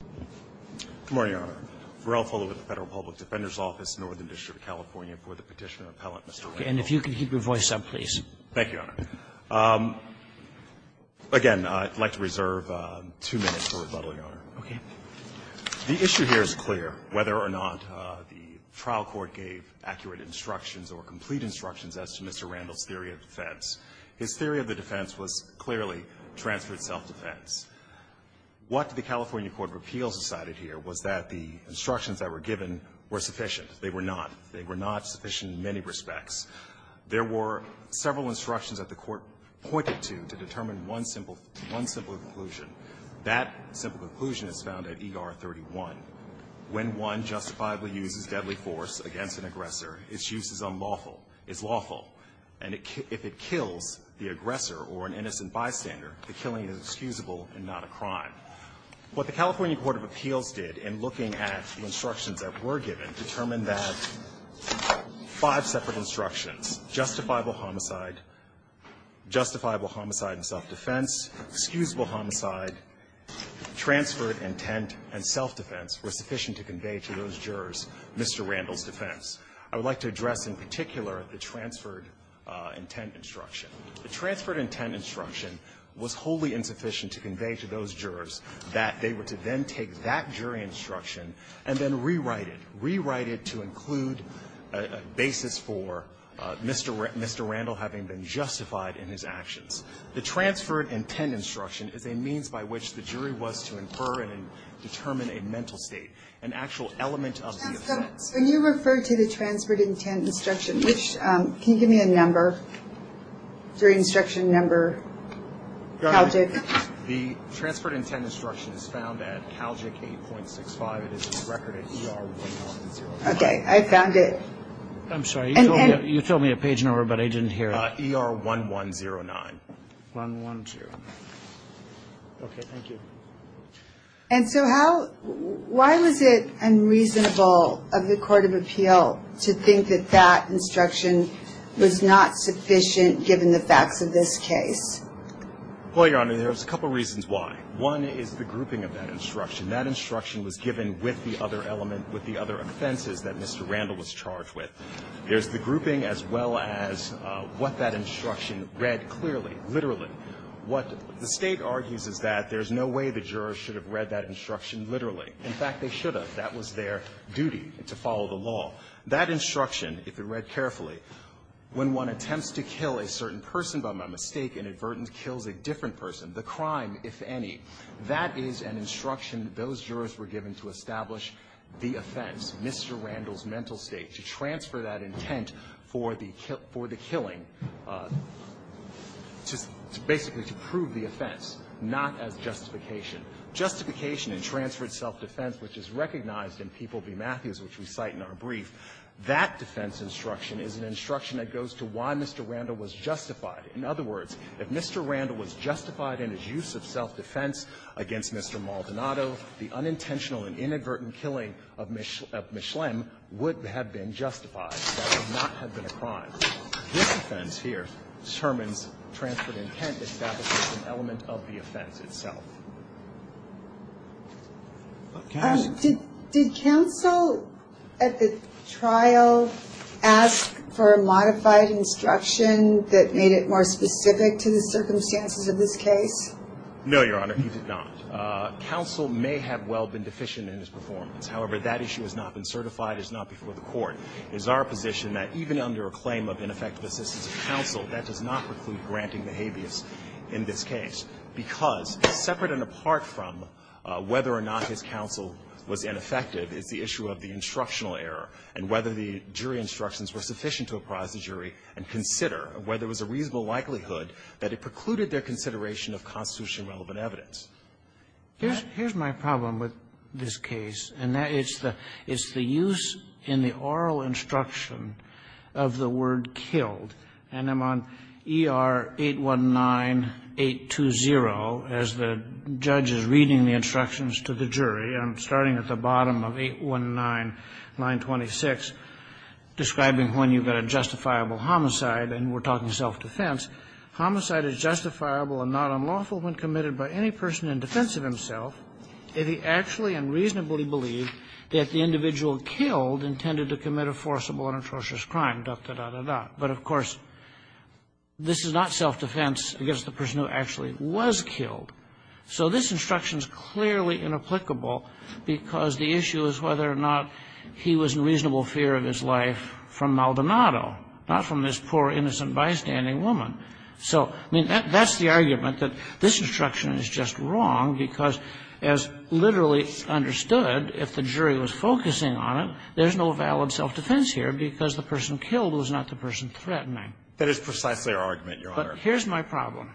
Good morning, Your Honor. We're all followed with the Federal Public Defender's Office, Northern District of California, for the Petitioner Appellant, Mr. Randell. And if you could keep your voice up, please. Thank you, Your Honor. Again, I'd like to reserve two minutes for rebuttal, Your Honor. Okay. The issue here is clear, whether or not the trial court gave accurate instructions or complete instructions as to Mr. Randell's theory of defense. His theory of the appeals decided here was that the instructions that were given were sufficient. They were not. They were not sufficient in many respects. There were several instructions that the Court pointed to, to determine one simple conclusion. That simple conclusion is found at ER 31. When one justifiably uses deadly force against an aggressor, its use is unlawful. It's lawful. And if it kills the aggressor or an innocent bystander, the killing is excusable and not a crime. What the California Court of Appeals did in looking at the instructions that were given determined that five separate instructions, justifiable homicide, justifiable homicide and self-defense, excusable homicide, transferred intent, and self-defense were sufficient to convey to those jurors Mr. Randell's defense. I would like to address in particular the transferred intent instruction. The transferred intent instruction was wholly insufficient to convey to those jurors that they were to then take that jury instruction and then rewrite it, rewrite it to include a basis for Mr. Randell having been justified in his actions. The transferred intent instruction is a means by which the jury was to infer and determine a mental state, an actual element of the offense. So you referred to the transferred intent instruction, which, can you give me a number, jury instruction number, CALJIC? The transferred intent instruction is found at CALJIC 8.65. It is a record at ER 1109. Okay, I found it. I'm sorry, you told me a page number, but I didn't hear it. ER 1109. 1109. Okay, thank you. And so how, why was it unreasonable of the court of appeal to think that that instruction was not sufficient given the facts of this case? Well, Your Honor, there's a couple reasons why. One is the grouping of that instruction. That instruction was given with the other element, with the other offenses that Mr. Randell was charged with. There's the grouping as well as what that instruction read clearly, literally. What the State argues is that there's no way the jurors should have read that instruction literally. In fact, they should have. That was their duty, to follow the law. That instruction, if it read carefully, when one attempts to kill a certain person by mistake, inadvertently kills a different person, the crime, if any, that is an instruction that those jurors were given to establish the offense, Mr. Randell's mental state, which is to transfer that intent for the killing, just basically to prove the offense, not as justification. Justification in transferred self-defense, which is recognized in People v. Matthews, which we cite in our brief, that defense instruction is an instruction that goes to why Mr. Randell was justified. In other words, if Mr. Randell was justified in his use of self-defense against Mr. Maldonado, the unintentional and inadvertent killing of Ms. Schlemm would have been justified. That would not have been a crime. This offense here determines transferred intent, establishes an element of the offense itself. Did counsel at the trial ask for a modified instruction that made it more specific to the circumstances of this case? No, Your Honor, he did not. Counsel may have well been deficient in his performance. However, that issue has not been certified. It's not before the Court. It is our position that even under a claim of ineffective assistance of counsel, that does not preclude granting the habeas in this case, because separate and apart from whether or not his counsel was ineffective is the issue of the instructional error and whether the jury instructions were sufficient to apprise the jury and consider whether there was a reasonable likelihood that it precluded their consideration of constitutionally relevant evidence. Here's my problem with this case, and that is the use in the oral instruction of the word killed. And I'm on ER-819-820 as the judge is reading the instructions to the jury. I'm starting at the bottom of 819-926, describing when you've got a justifiable homicide, and we're talking self-defense. Homicide is justifiable and not unlawful when committed by any person in defense of himself, if he actually and reasonably believed that the individual killed intended to commit a forcible and atrocious crime, dot, dot, dot, dot, dot. But of course, this is not self-defense against the person who actually was killed. So this instruction is clearly inapplicable because the issue is whether or not he was in reasonable fear of his life from Maldonado, not from this poor, innocent, bystanding woman. So, I mean, that's the argument, that this instruction is just wrong because, as literally understood, if the jury was focusing on it, there's no valid self-defense here because the person killed was not the person threatening. That is precisely our argument, Your Honor. But here's my problem.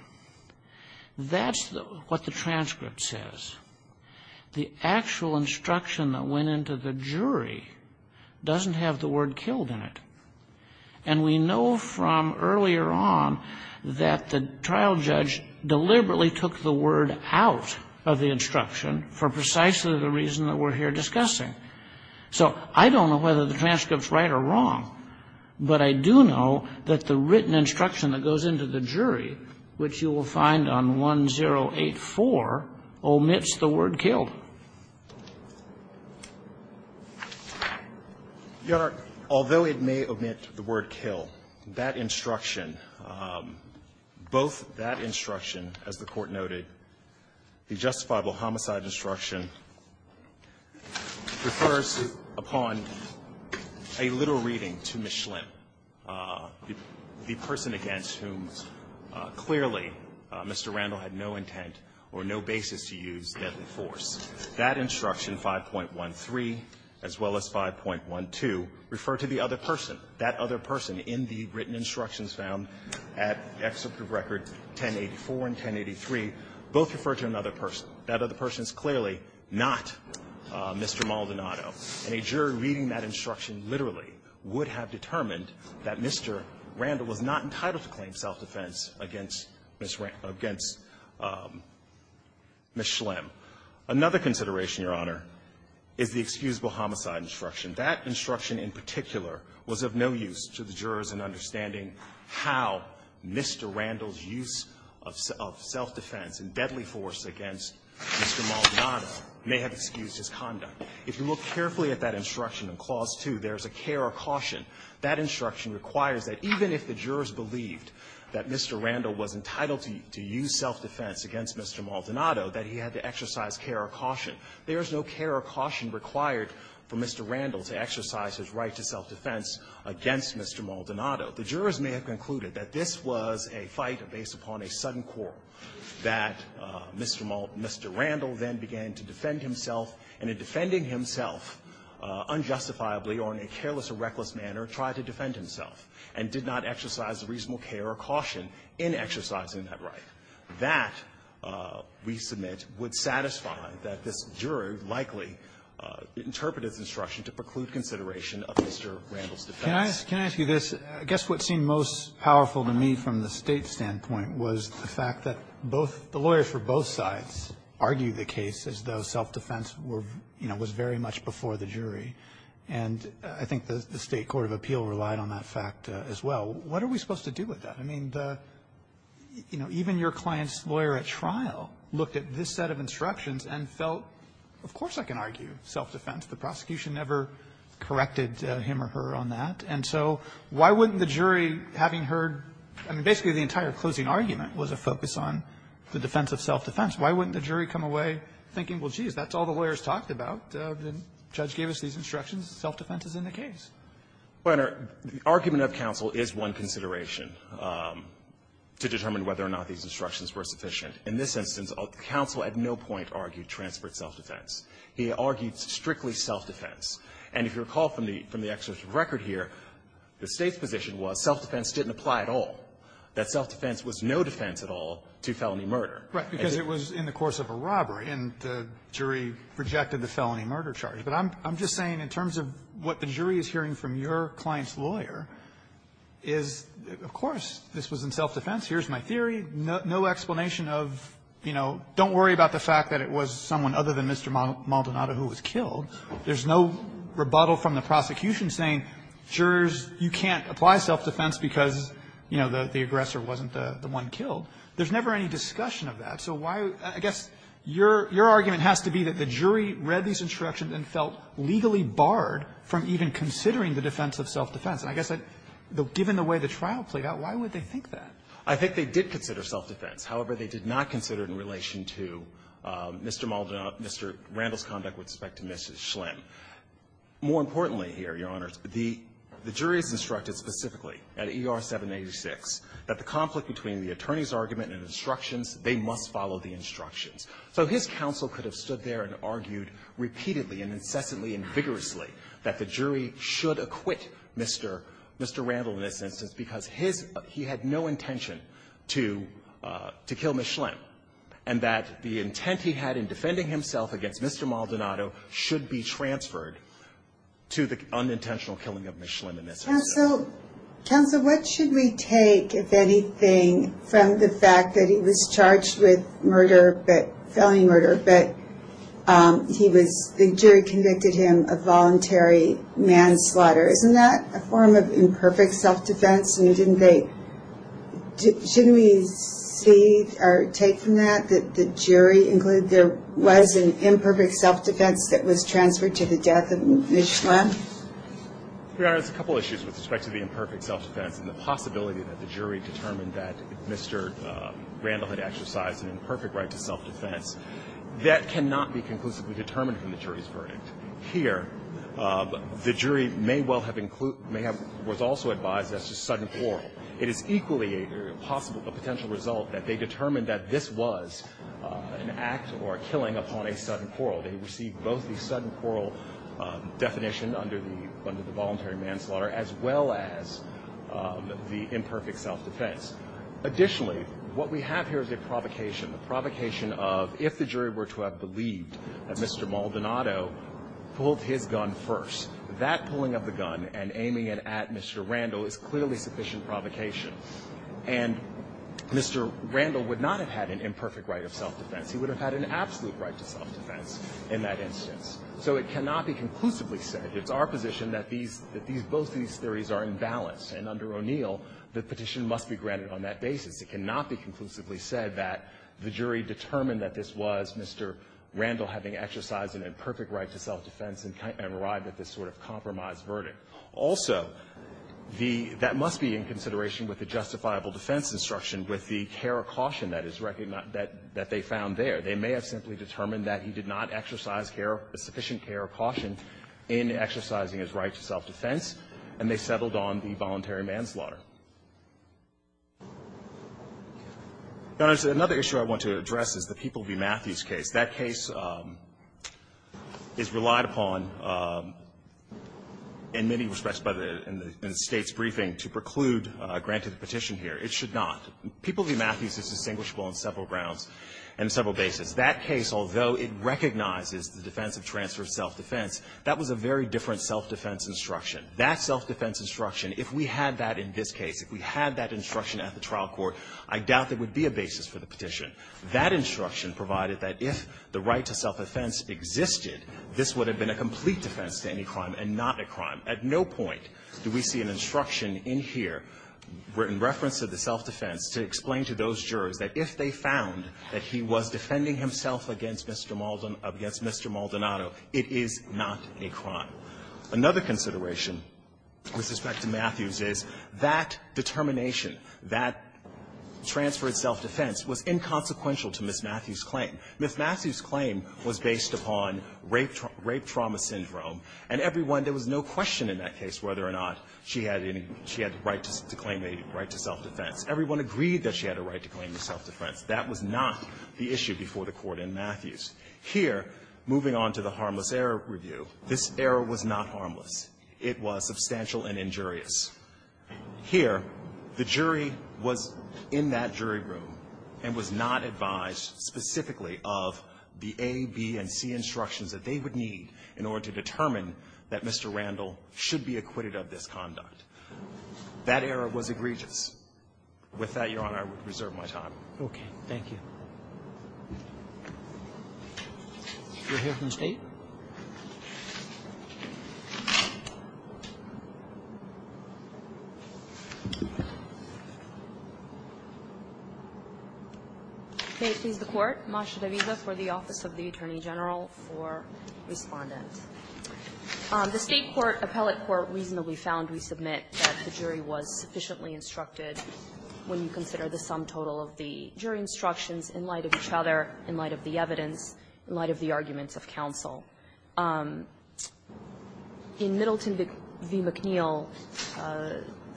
That's what the transcript says. The actual instruction that went into the jury doesn't have the word killed in it. And we know from earlier on that the trial judge deliberately took the word out of the instruction for precisely the reason that we're here discussing. So I don't know whether the transcript's right or wrong, but I do know that the written instruction that goes into the jury, which you will find on 1084, omits the word killed. Your Honor, although it may omit the word kill, that instruction, both that instruction, as the Court noted, the justifiable homicide instruction, refers upon a little reading to Ms. Schlimm, the person against whom clearly Mr. Randall had no intent or no basis to use deadly force. That instruction, 5.13, as well as 5.12, refer to the other person. That other person in the written instructions found at Excerpt of Record 1084 and 1083 both refer to another person. That other person is clearly not Mr. Maldonado. And a jury reading that instruction literally would have determined that Mr. Randall was not entitled to claim self-defense against Ms. Schlimm. Another consideration, Your Honor, is the excusable homicide instruction. That instruction in particular was of no use to the jurors in understanding how Mr. Randall's use of self-defense and deadly force against Mr. Maldonado may have excused his conduct. If you look carefully at that instruction in Clause 2, there's a care or caution. That instruction requires that even if the jurors believed that Mr. Randall was entitled to use self-defense against Mr. Maldonado, that he had to exercise care or caution. There is no care or caution required for Mr. Randall to exercise his right to self-defense against Mr. Maldonado. The jurors may have concluded that this was a fight based upon a sudden quarrel, that Mr. Maldonado, Mr. Randall then began to defend himself, and in defending himself unjustifiably or in a careless or reckless manner, tried to defend himself and did not exercise reasonable care or caution in exercising that right. That, we submit, would satisfy that this juror likely interpreted this instruction to preclude consideration of Mr. Randall's defense. Can I ask you this? I guess what seemed most powerful to me from the state standpoint was the fact that the lawyers for both sides argued the case as though self-defense was very much before the jury. And I think the State court of appeal relied on that fact as well. What are we supposed to do with that? I mean, even your client's lawyer at trial looked at this set of instructions and felt, of course I can argue self-defense. The prosecution never corrected him or her on that. And so why wouldn't the jury, having heard the entire closing argument, was a focus on the defense of self-defense? Why wouldn't the jury come away thinking, well, geez, that's all the lawyers talked about. The judge gave us these instructions. Self-defense is in the case. Well, Your Honor, the argument of counsel is one consideration to determine whether or not these instructions were sufficient. In this instance, counsel at no point argued transferred self-defense. He argued strictly self-defense. And if you recall from the excerpt of record here, the State's position was self-defense didn't apply at all. That self-defense was no defense at all to felony murder. Right. Because it was in the course of a robbery, and the jury rejected the felony murder charge. But I'm just saying in terms of what the jury is hearing from your client's lawyer is, of course, this was in self-defense. Here's my theory. No explanation of, you know, don't worry about the fact that it was someone other than Mr. Maldonado who was killed. There's no rebuttal from the prosecution saying, jurors, you can't apply self-defense because, you know, the aggressor wasn't the one killed. There's never any discussion of that. So why do you – I guess your argument has to be that the jury read these instructions and felt legally barred from even considering the defense of self-defense. And I guess I'd – given the way the trial played out, why would they think that? I think they did consider self-defense. However, they did not consider it in relation to Mr. Maldonado – Mr. Randall's conduct with respect to Mrs. Schlinn. More importantly here, Your Honors, the jury is instructed specifically at ER 786 that the conflict between the attorney's argument and instructions, they must follow the instructions. So his counsel could have stood there and argued repeatedly and incessantly and vigorously that the jury should acquit Mr. – Mr. Randall in this instance because his – he had no intention to – to kill Mrs. Schlinn, and that the intent he had in defending himself against Mr. Maldonado should be transferred to the unintentional killing of Mrs. Schlinn in this instance. Counsel, counsel, what should we take, if anything, from the fact that he was charged with murder, but – felony murder, but he was – the jury convicted him of voluntary manslaughter. Isn't that a form of imperfect self-defense? I mean, didn't they – shouldn't we see or take from that that the jury included there was an imperfect self-defense that was transferred to the death of Mrs. Schlinn? Your Honors, a couple of issues with respect to the imperfect self-defense and the possibility that the jury determined that Mr. Randall had exercised an imperfect right to self-defense. That cannot be conclusively determined from the jury's verdict. Here, the jury may well have – may have – was also advised as to sudden quarrel. It is equally a possible – a potential result that they determined that this was an act or a killing upon a sudden quarrel. They received both the sudden quarrel definition under the – under the voluntary manslaughter as well as the imperfect self-defense. Additionally, what we have here is a provocation, a provocation of if the jury were to have believed that Mr. Maldonado pulled his gun first, that pulling of the gun and aiming it at Mr. Randall is clearly sufficient provocation. And Mr. Randall would not have had an imperfect right of self-defense. He would have had an absolute right to self-defense in that instance. So it cannot be conclusively said. It's our position that these – that these – both of these theories are in balance. And under O'Neill, the petition must be granted on that basis. It cannot be conclusively said that the jury determined that this was Mr. Randall having exercised an imperfect right to self-defense and arrived at this sort of compromised verdict. Also, the – that must be in consideration with the justifiable defense instruction with the care or caution that is – that they found there. They may have simply determined that he did not exercise care – sufficient care or caution in exercising his right to self-defense, and they settled on the voluntary manslaughter. Now, there's another issue I want to address is the People v. Matthews case. That case is relied upon in many respects by the – in the State's briefing to preclude a granted petition here. It should not. People v. Matthews is distinguishable on several grounds and several basis. That case, although it recognizes the defense of transfer of self-defense, that was a very different self-defense instruction. That self-defense instruction, if we had that in this case, if we had that instruction at the trial court, I doubt there would be a basis for the petition. That instruction provided that if the right to self-defense existed, this would have been a complete defense to any crime and not a crime. At no point do we see an instruction in here in reference to the self-defense to explain to those jurors that if they found that he was defending himself against Mr. Maldonado, it is not a crime. Another consideration with respect to Matthews is that determination, that transfer of self-defense was inconsequential to Ms. Matthews' claim. Ms. Matthews' claim was based upon rape trauma syndrome, and everyone – there was no question in that case whether or not she had any – she had the right to claim a right to self-defense. Everyone agreed that she had a right to claim a self-defense. That was not the issue before the Court in Matthews. Here, moving on to the harmless error review, this error was not harmless. It was substantial and injurious. Here, the jury was in that jury room and was not advised specifically of the A, B, and C instructions that they would need in order to determine that Mr. Randall should be acquitted of this conduct. That error was egregious. With that, Your Honor, I would reserve my time. Roberts. Thank you. You're here from the State. May it please the Court. Masha Davidoff for the Office of the Attorney General for Respondent. The State court, appellate court, reasonably found, we submit, that the jury was sufficiently instructed when you consider the sum total of the jury instructions in light of each other, in light of the evidence, in light of the arguments of counsel. In Middleton v. McNeil,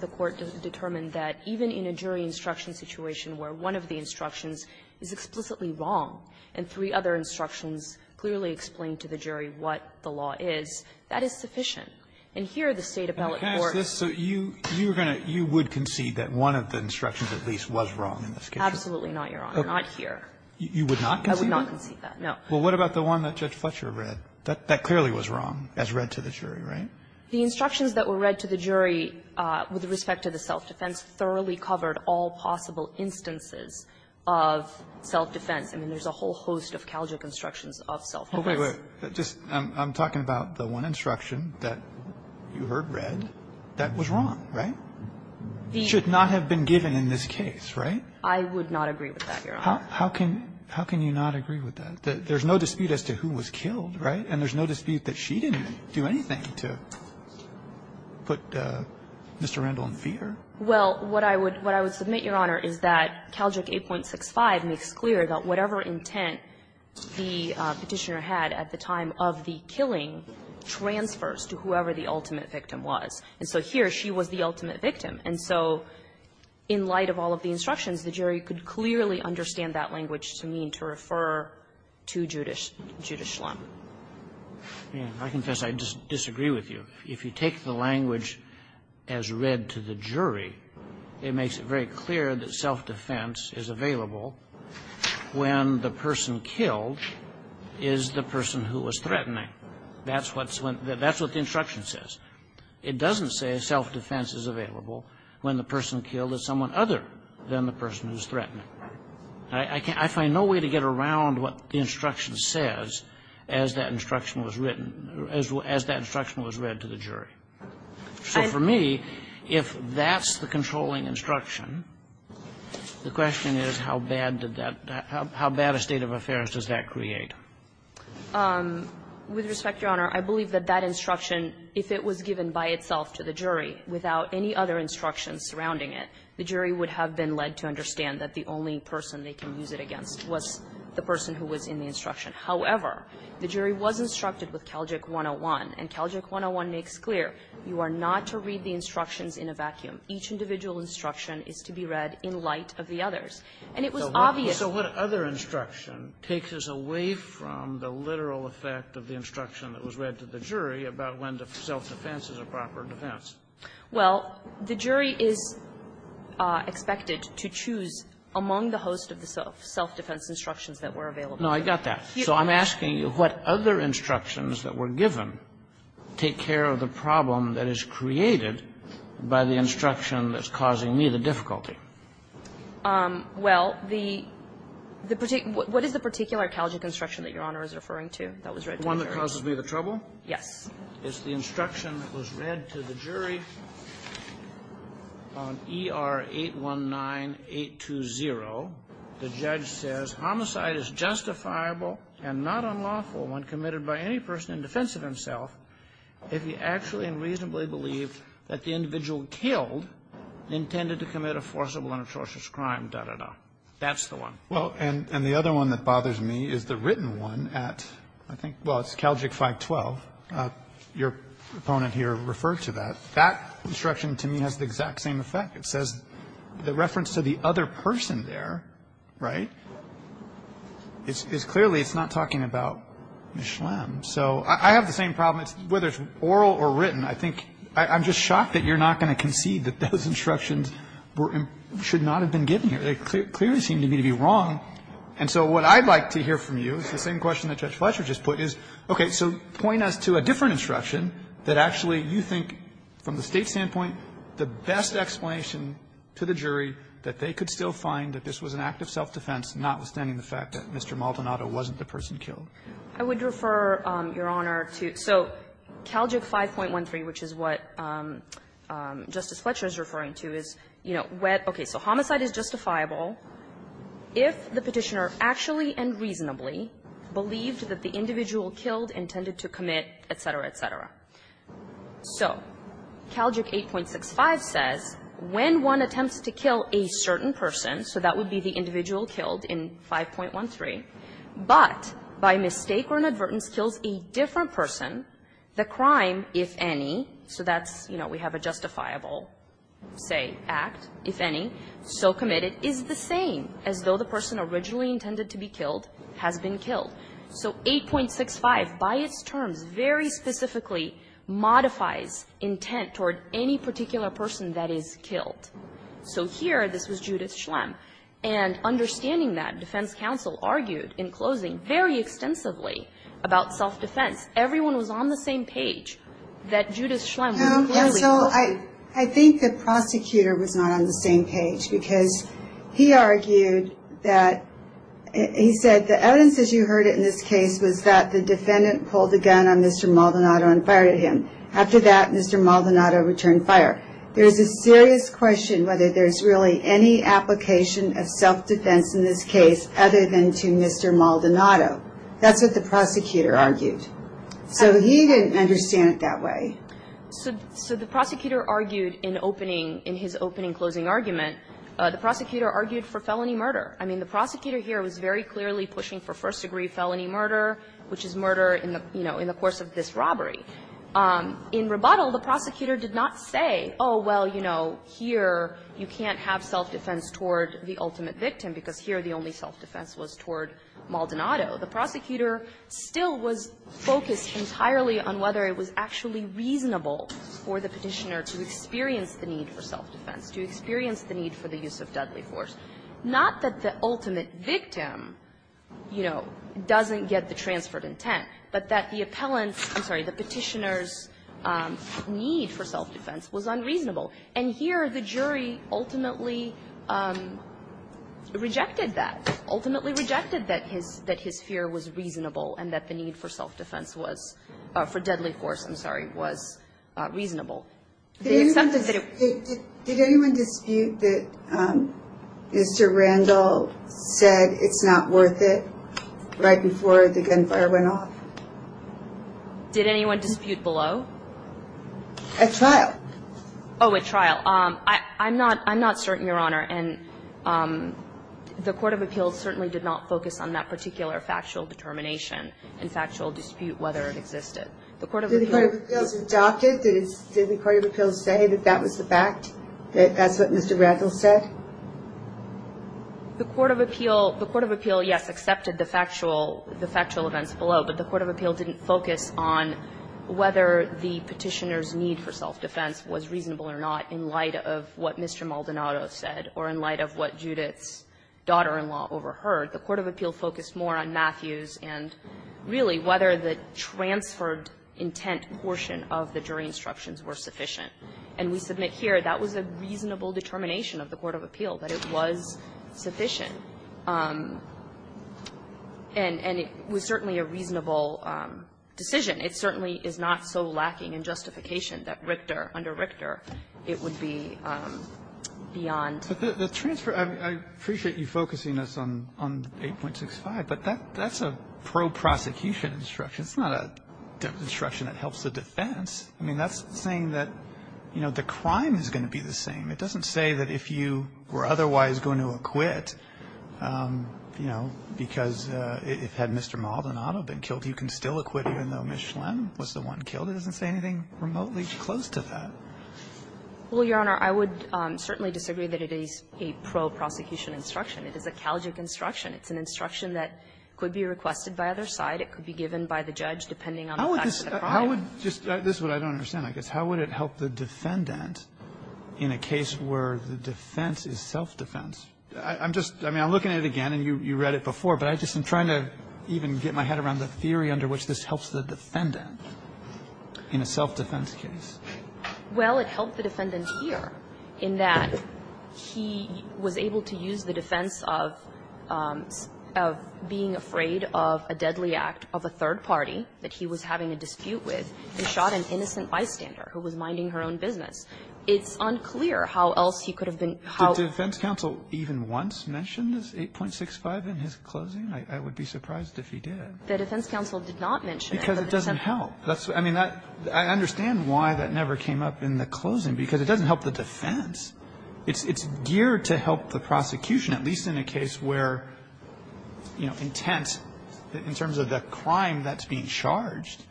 the Court determined that even in a jury instruction situation where one of the instructions is explicitly wrong and three other instructions clearly explain to the jury what the law is, that is sufficient. And here, the State appellate court was going to be able to say, you know, I'm not I'm absolutely not, Your Honor, not here. You would not concede that? I would not concede that, no. Well, what about the one that Judge Fletcher read? That clearly was wrong, as read to the jury, right? The instructions that were read to the jury with respect to the self-defense thoroughly covered all possible instances of self-defense. I mean, there's a whole host of Calgic instructions of self-defense. Okay. Wait. I'm talking about the one instruction that you heard read that was wrong, right? It should not have been given in this case, right? I would not agree with that, Your Honor. How can you not agree with that? There's no dispute as to who was killed, right? And there's no dispute that she didn't do anything to put Mr. Randall in fear? Well, what I would submit, Your Honor, is that Calgic 8.65 makes clear that whatever intent the Petitioner had at the time of the killing transfers to whoever the ultimate victim was. And so here, she was the ultimate victim. And so in light of all of the instructions, the jury could clearly understand that language to mean to refer to Judith Schlem. I confess I disagree with you. If you take the language as read to the jury, it makes it very clear that self-defense is available when the person killed is the person who was threatening. That's what's when the that's what the instruction says. It doesn't say self-defense is available when the person killed is someone other than the person who's threatening. I find no way to get around what the instruction says as that instruction was written, as that instruction was read to the jury. So for me, if that's the controlling instruction, the question is how bad did that how bad a state of affairs does that create? With respect, Your Honor, I believe that that instruction, if it was given by itself to the jury without any other instructions surrounding it, the jury would have been led to understand that the only person they can use it against was the person who was in the instruction. However, the jury was instructed with Calgic 101, and Calgic 101 makes clear you are not to read the instructions in a vacuum. Each individual instruction is to be read in light of the others. And it was obvious. Kagan, so what other instruction takes us away from the literal effect of the instruction that was read to the jury about when the self-defense is a proper defense? Well, the jury is expected to choose among the host of the self-defense instructions that were available. No, I got that. So I'm asking you what other instructions that were given take care of the problem that is created by the instruction that's causing me the difficulty? Well, the particular – what is the particular Calgic instruction that Your Honor is referring to that was read to the jury? The one that causes me the trouble? Yes. It's the instruction that was read to the jury on ER-819-820. The judge says homicide is justifiable and not unlawful when committed by any person in defense of himself if he actually and reasonably believed that the individual killed intended to commit a forcible and atrocious crime, da, da, da. That's the one. Well, and the other one that bothers me is the written one at, I think, well, it's Calgic 512. Your opponent here referred to that. That instruction to me has the exact same effect. It says the reference to the other person there, right, is clearly it's not talking about Ms. Schlem. So I have the same problem whether it's oral or written. I think – I'm just shocked that you're not going to concede that those instructions were – should not have been given here. They clearly seem to me to be wrong. And so what I'd like to hear from you is the same question that Judge Fletcher just put, is, okay, so point us to a different instruction that actually you think from the State's standpoint the best explanation to the jury that they could still find that this was an act of self-defense, notwithstanding the fact that Mr. Maldonado wasn't the person killed. I would refer, Your Honor, to – so Calgic 5.13, which is what Justice Fletcher is referring to, is, you know, what – okay, so homicide is justifiable if the Petitioner actually and reasonably believed that the individual killed intended to commit, et cetera, et cetera. So Calgic 8.65 says when one attempts to kill a certain person, so that would be the mistake or inadvertence kills a different person, the crime, if any – so that's, you know, we have a justifiable, say, act, if any – so committed is the same as though the person originally intended to be killed has been killed. So 8.65 by its terms very specifically modifies intent toward any particular person that is killed. So here, this was Judith Schlem. And understanding that, defense counsel argued in closing very extensively about self-defense. Everyone was on the same page that Judith Schlem was clearly – So I think the prosecutor was not on the same page because he argued that – he said the evidence, as you heard it in this case, was that the defendant pulled the gun on Mr. Maldonado and fired at him. After that, Mr. Maldonado returned fire. There's a serious question whether there's really any application of self-defense in this case other than to Mr. Maldonado. That's what the prosecutor argued. So he didn't understand it that way. So the prosecutor argued in opening – in his opening closing argument, the prosecutor argued for felony murder. I mean, the prosecutor here was very clearly pushing for first-degree felony murder, In rebuttal, the prosecutor did not say, oh, well, you know, here you can't have self-defense toward the ultimate victim, because here the only self-defense was toward Maldonado. The prosecutor still was focused entirely on whether it was actually reasonable for the Petitioner to experience the need for self-defense, to experience the need for the use of deadly force. Not that the ultimate victim, you know, doesn't get the transferred intent, but that the appellant's – I'm sorry – the Petitioner's need for self-defense was unreasonable. And here, the jury ultimately rejected that, ultimately rejected that his fear was reasonable and that the need for self-defense was – for deadly force, I'm sorry, was reasonable. They accepted that it – Did anyone dispute that Mr. Randall said it's not worth it right before the gunfire went off? Did anyone dispute below? At trial. Oh, at trial. I'm not – I'm not certain, Your Honor. And the Court of Appeals certainly did not focus on that particular factual determination and factual dispute whether it existed. The Court of Appeals – Did the Court of Appeals adopt it? Did the Court of Appeals say that that was the fact, that that's what Mr. Randall said? The Court of Appeals – the Court of Appeals, yes, accepted the factual – the factual events below. But the Court of Appeals didn't focus on whether the Petitioner's need for self-defense was reasonable or not in light of what Mr. Maldonado said or in light of what Judith's daughter-in-law overheard. The Court of Appeals focused more on Matthews and, really, whether the transferred intent portion of the jury instructions were sufficient. And we submit here that was a reasonable determination of the Court of Appeals, that it was sufficient. And it was certainly a reasonable decision. It certainly is not so lacking in justification that Richter, under Richter, it would be beyond. But the transfer – I appreciate you focusing us on 8.65, but that's a pro-prosecution instruction. It's not an instruction that helps the defense. I mean, that's saying that, you know, the crime is going to be the same. It doesn't say that if you were otherwise going to acquit, you know, because if – had Mr. Maldonado been killed, you can still acquit even though Ms. Schlem was the one killed. It doesn't say anything remotely close to that. Well, Your Honor, I would certainly disagree that it is a pro-prosecution instruction. It is a calgic instruction. It's an instruction that could be requested by either side. It could be given by the judge depending on the facts of the crime. How would – just – this is what I don't understand, I guess. How would it help the defendant in a case where the defense is self-defense? I'm just – I mean, I'm looking at it again, and you read it before, but I just am trying to even get my head around the theory under which this helps the defendant in a self-defense case. Well, it helped the defendant here in that he was able to use the defense of being afraid of a deadly act of a third party that he was having a dispute with and shot an innocent bystander who was minding her own business. It's unclear how else he could have been – Did the defense counsel even once mention this 8.65 in his closing? I would be surprised if he did. The defense counsel did not mention it. Because it doesn't help. I mean, I understand why that never came up in the closing, because it doesn't help the defense. It's geared to help the prosecution, at least in a case where, you know, intent in terms of the crime that's being charged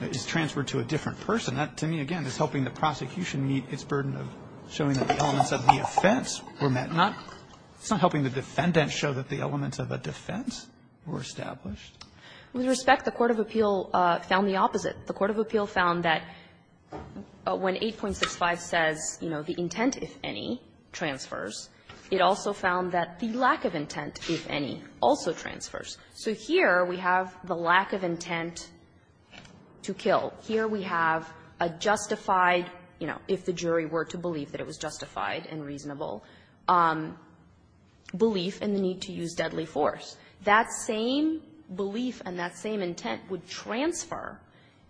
is transferred to a different person. That, to me, again, is helping the prosecution meet its burden of showing that the elements of the offense were met. It's not helping the defendant show that the elements of a defense were established. With respect, the court of appeal found the opposite. The court of appeal found that when 8.65 says, you know, the intent, if any, transfers, it also found that the lack of intent, if any, also transfers. So here we have the lack of intent to kill. Here we have a justified, you know, if the jury were to believe that it was justified and reasonable, belief in the need to use deadly force. That same belief and that same intent would transfer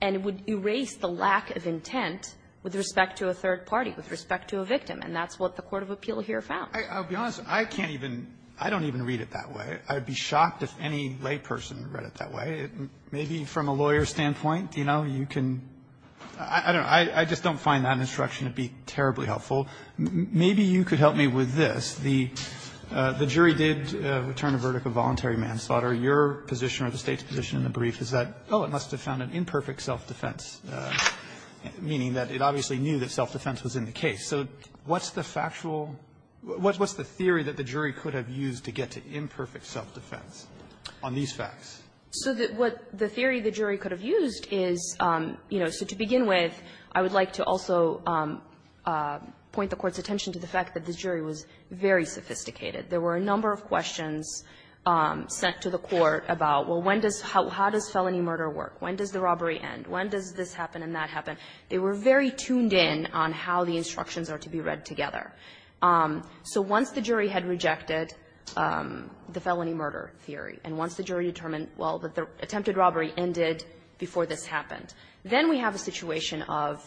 and would erase the lack of intent with respect to a third party, with respect to a victim. And that's what the court of appeal here found. I'll be honest. I can't even – I don't even read it that way. I'd be shocked if any layperson read it that way. Maybe from a lawyer's standpoint, you know, you can – I don't know. I just don't find that instruction to be terribly helpful. Maybe you could help me with this. The jury did return a verdict of voluntary manslaughter. Your position or the State's position in the brief is that, oh, it must have found an imperfect self-defense, meaning that it obviously knew that self-defense was in the case. So what's the factual – what's the theory that the jury could have used to get to imperfect self-defense on these facts? So what the theory the jury could have used is, you know, so to begin with, I would like to also point the Court's attention to the fact that the jury was very sophisticated. There were a number of questions sent to the Court about, well, when does – how does felony murder work? When does the robbery end? When does this happen and that happen? They were very tuned in on how the instructions are to be read together. So once the jury had rejected the felony murder theory, and once the jury determined well, that the attempted robbery ended before this happened, then we have a situation of,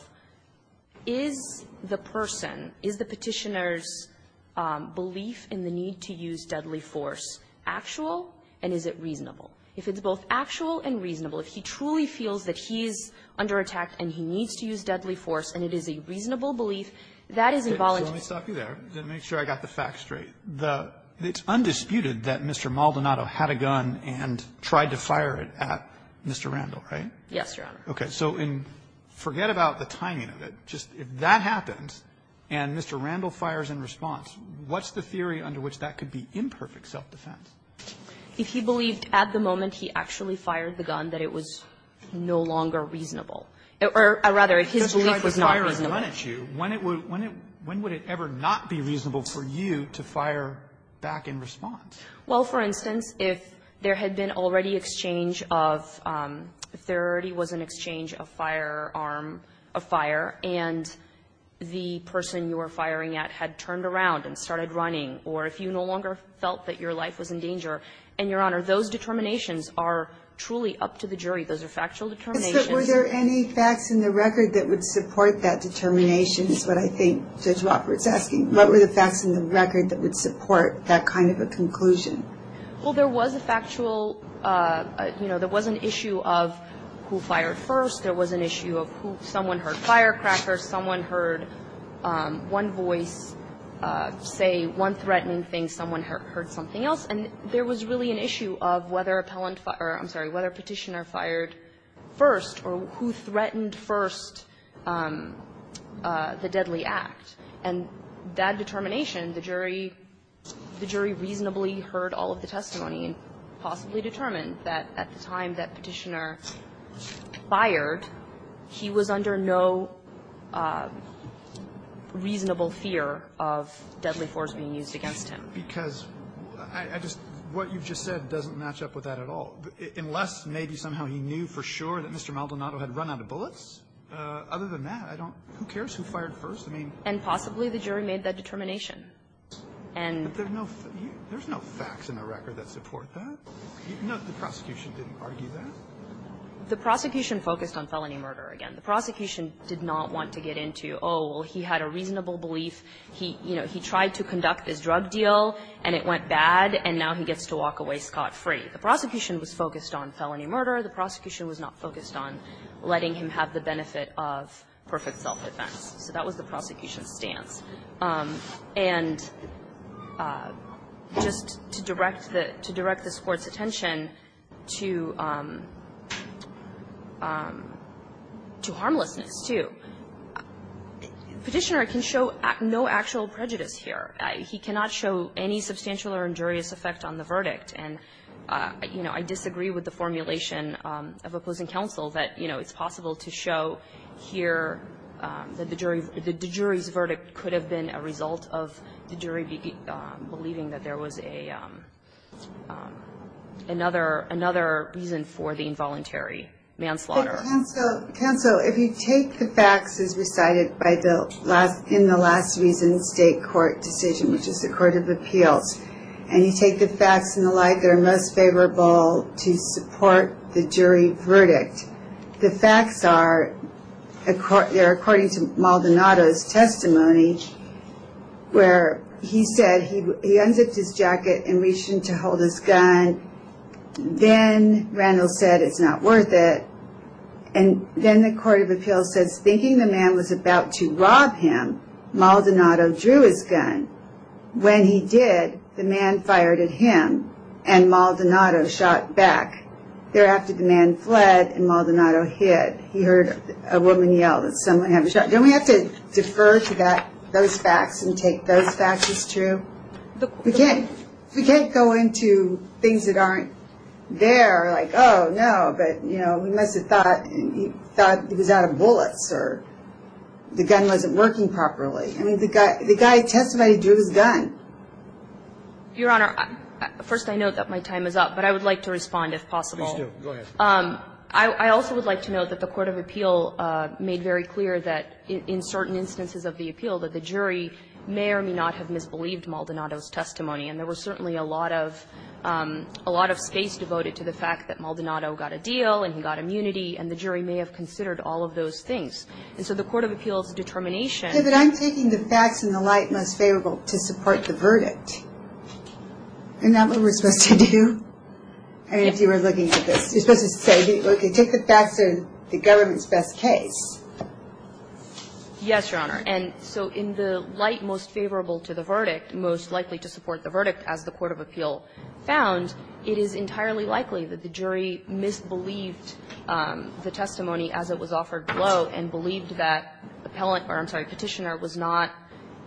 is the person, is the Petitioner's belief in the need to use deadly force actual and is it reasonable? If it's both actual and reasonable, if he truly feels that he is under attack and he needs to use deadly force and it is a reasonable belief, that is involuntary. So let me stop you there. Let me make sure I got the facts straight. The – it's undisputed that Mr. Maldonado had a gun and tried to fire it at Mr. Randall, right? Yes, Your Honor. Okay. So forget about the timing of it. Just if that happens and Mr. Randall fires in response, what's the theory under which that could be imperfect self-defense? If he believed at the moment he actually fired the gun that it was no longer reasonable or rather his belief was not reasonable. If he had a gun at you, when would it ever not be reasonable for you to fire back in response? Well, for instance, if there had been already exchange of – if there already was an exchange of firearm – of fire and the person you were firing at had turned around and started running or if you no longer felt that your life was in danger. And, Your Honor, those determinations are truly up to the jury. Those are factual determinations. Were there any facts in the record that would support that determination is what I think Judge Roberts is asking. What were the facts in the record that would support that kind of a conclusion? Well, there was a factual – you know, there was an issue of who fired first. There was an issue of who – someone heard firecrackers. Someone heard one voice say one threatening thing. Someone heard something else. And there was really an issue of whether appellant – or I'm sorry, whether Petitioner fired first or who threatened first the deadly act. And that determination, the jury – the jury reasonably heard all of the testimony and possibly determined that at the time that Petitioner fired, he was under no reasonable fear of deadly force being used against him. Because I just – what you've just said doesn't match up with that at all. Unless maybe somehow he knew for sure that Mr. Maldonado had run out of bullets. Other than that, I don't – who cares who fired first? I mean – And possibly the jury made that determination. And – But there's no – there's no facts in the record that support that. No, the prosecution didn't argue that. The prosecution focused on felony murder again. The prosecution did not want to get into, oh, well, he had a reasonable belief. He, you know, he tried to conduct his drug deal, and it went bad, and now he gets to walk away scot-free. The prosecution was focused on felony murder. The prosecution was not focused on letting him have the benefit of perfect self-defense. So that was the prosecution's stance. And just to direct the – to direct this Court's attention to – to harmlessness too, Petitioner can show no actual prejudice here. He cannot show any substantial or injurious effect on the verdict. And, you know, I disagree with the formulation of opposing counsel that, you know, it's possible to show here that the jury – that the jury's verdict could have been a result of the jury believing that there was a – another – another reason for the involuntary manslaughter. Counsel, if you take the facts as recited by the – in the last reason state court decision, which is the Court of Appeals, and you take the facts and the like that are most favorable to support the jury verdict, the facts are – they're according to Maldonado's testimony, where he said he unzipped his jacket and reached in to hold his gun. And then Randall said, it's not worth it. And then the Court of Appeals says, thinking the man was about to rob him, Maldonado drew his gun. When he did, the man fired at him, and Maldonado shot back. Thereafter, the man fled, and Maldonado hid. He heard a woman yell that someone had a shot. Don't we have to defer to that – those facts and take those facts as true? We can't – we can't go into things that aren't there, like, oh, no, but, you know, we must have thought – thought he was out of bullets or the gun wasn't working properly. I mean, the guy – the guy testified he drew his gun. Your Honor, first I note that my time is up, but I would like to respond if possible. Please do. Go ahead. I also would like to note that the Court of Appeal made very clear that in certain instances of the appeal that the jury may or may not have misbelieved Maldonado's testimony. And there was certainly a lot of – a lot of space devoted to the fact that Maldonado got a deal and he got immunity, and the jury may have considered all of those things. And so the Court of Appeals' determination – Okay, but I'm taking the facts in the light most favorable to support the verdict. Isn't that what we're supposed to do? I mean, if you were looking at this, you're supposed to say, okay, take the facts in the government's best case. Yes, Your Honor. And so in the light most favorable to the verdict, most likely to support the verdict as the Court of Appeal found, it is entirely likely that the jury misbelieved the testimony as it was offered below and believed that the appellant – or I'm sorry, Petitioner was not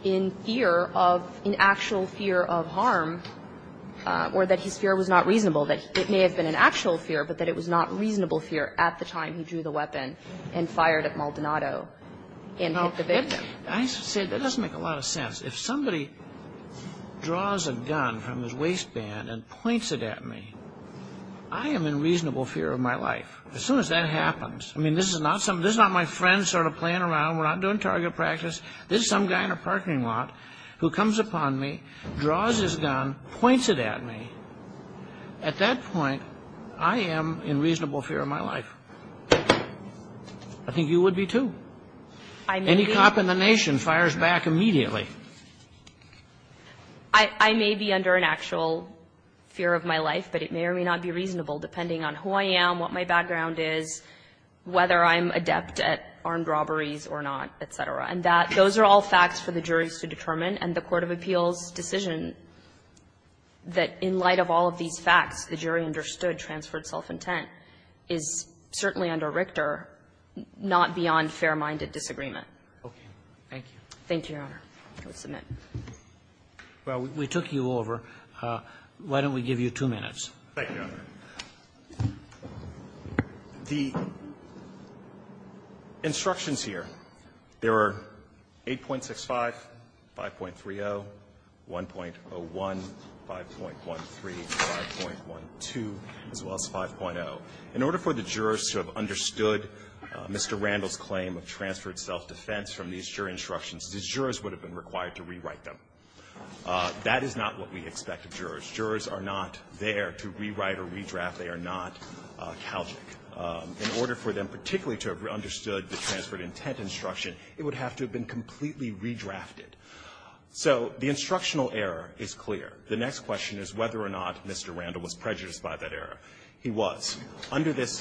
in fear of – in actual fear of harm or that his fear was not reasonable, that it may have been an actual fear, but that it was not reasonable fear at the time he drew the weapon and fired at Maldonado and hit the victim. I say that doesn't make a lot of sense. If somebody draws a gun from his waistband and points it at me, I am in reasonable fear of my life. As soon as that happens – I mean, this is not my friend sort of playing around. We're not doing target practice. This is some guy in a parking lot who comes upon me, draws his gun, points it at me. At that point, I am in reasonable fear of my life. I think you would be, too. Any cop in the nation fires back immediately. I may be under an actual fear of my life, but it may or may not be reasonable depending on who I am, what my background is, whether I'm adept at armed robberies or not, et cetera. And the Court of Appeals' decision that in light of all of these facts, the jury understood transferred self-intent is certainly under Richter not beyond fair-minded Thank you, Your Honor. I will submit. Roberts. Well, we took you over. Why don't we give you two minutes? Thank you, Your Honor. The instructions here, there are 8.65, 5.30, 1.01, 5.13, 5.12, as well as 5.0. In order for the jurors to have understood Mr. Randall's claim of transferred self-defense from these jury instructions, the jurors would have been required to rewrite them. That is not what we expect of jurors. Jurors are not there to rewrite or redraft. They are not calgic. In order for them particularly to have understood the transferred intent instruction, it would have to have been completely redrafted. So the instructional error is clear. The next question is whether or not Mr. Randall was prejudiced by that error. He was. Under this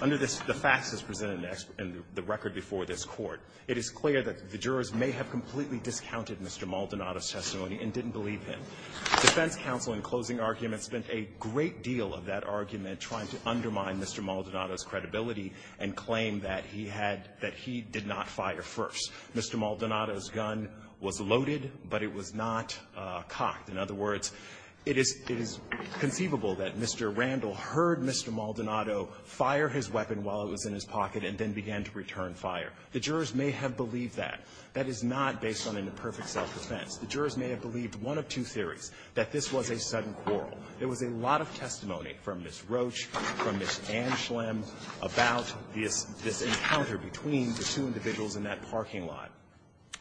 the facts as presented in the record before this Court, it is clear that the jurors may have completely discounted Mr. Maldonado's testimony and didn't believe him. The defense counsel in closing argument spent a great deal of that argument trying to undermine Mr. Maldonado's credibility and claim that he had, that he did not fire first. Mr. Maldonado's gun was loaded, but it was not cocked. In other words, it is conceivable that Mr. Randall heard Mr. Maldonado fire his weapon while it was in his pocket and then began to return fire. The jurors may have believed that. That is not based on an imperfect self-defense. The jurors may have believed one of two theories, that this was a sudden quarrel. There was a lot of testimony from Ms. Roach, from Ms. Anschlem about this encounter between the two individuals in that parking lot.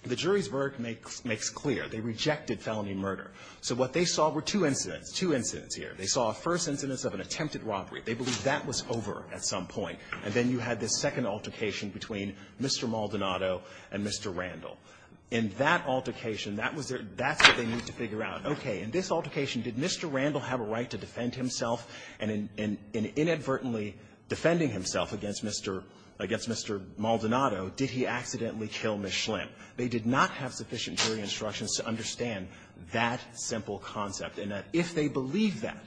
The jury's verdict makes clear. They rejected felony murder. So what they saw were two incidents, two incidents here. They saw a first incidence of an attempted robbery. They believed that was over at some point. And then you had this second altercation between Mr. Maldonado and Mr. Randall. In that altercation, that was their -- that's what they need to figure out. Okay. In this altercation, did Mr. Randall have a right to defend himself? And in inadvertently defending himself against Mr. Maldonado, did he accidentally kill Ms. Anschlem? They did not have sufficient jury instructions to understand that simple concept. And if they believe that,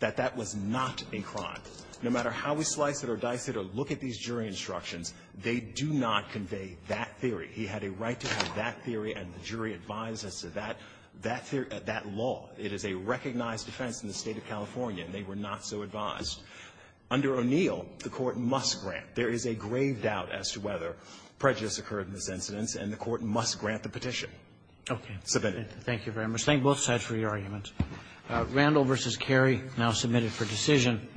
that that was not a crime, no matter how we slice it or dice it or look at these jury instructions, they do not convey that theory. He had a right to have that theory, and the jury advised us that that theory or that law, it is a recognized defense in the State of California, and they were not so advised. Under O'Neill, the Court must grant. There is a grave doubt as to whether prejudice occurred in this incidence, and the Court must grant the petition. Okay. Submitted. Thank you very much. Thank both sides for your argument. Randall v. Carey now submitted for decision.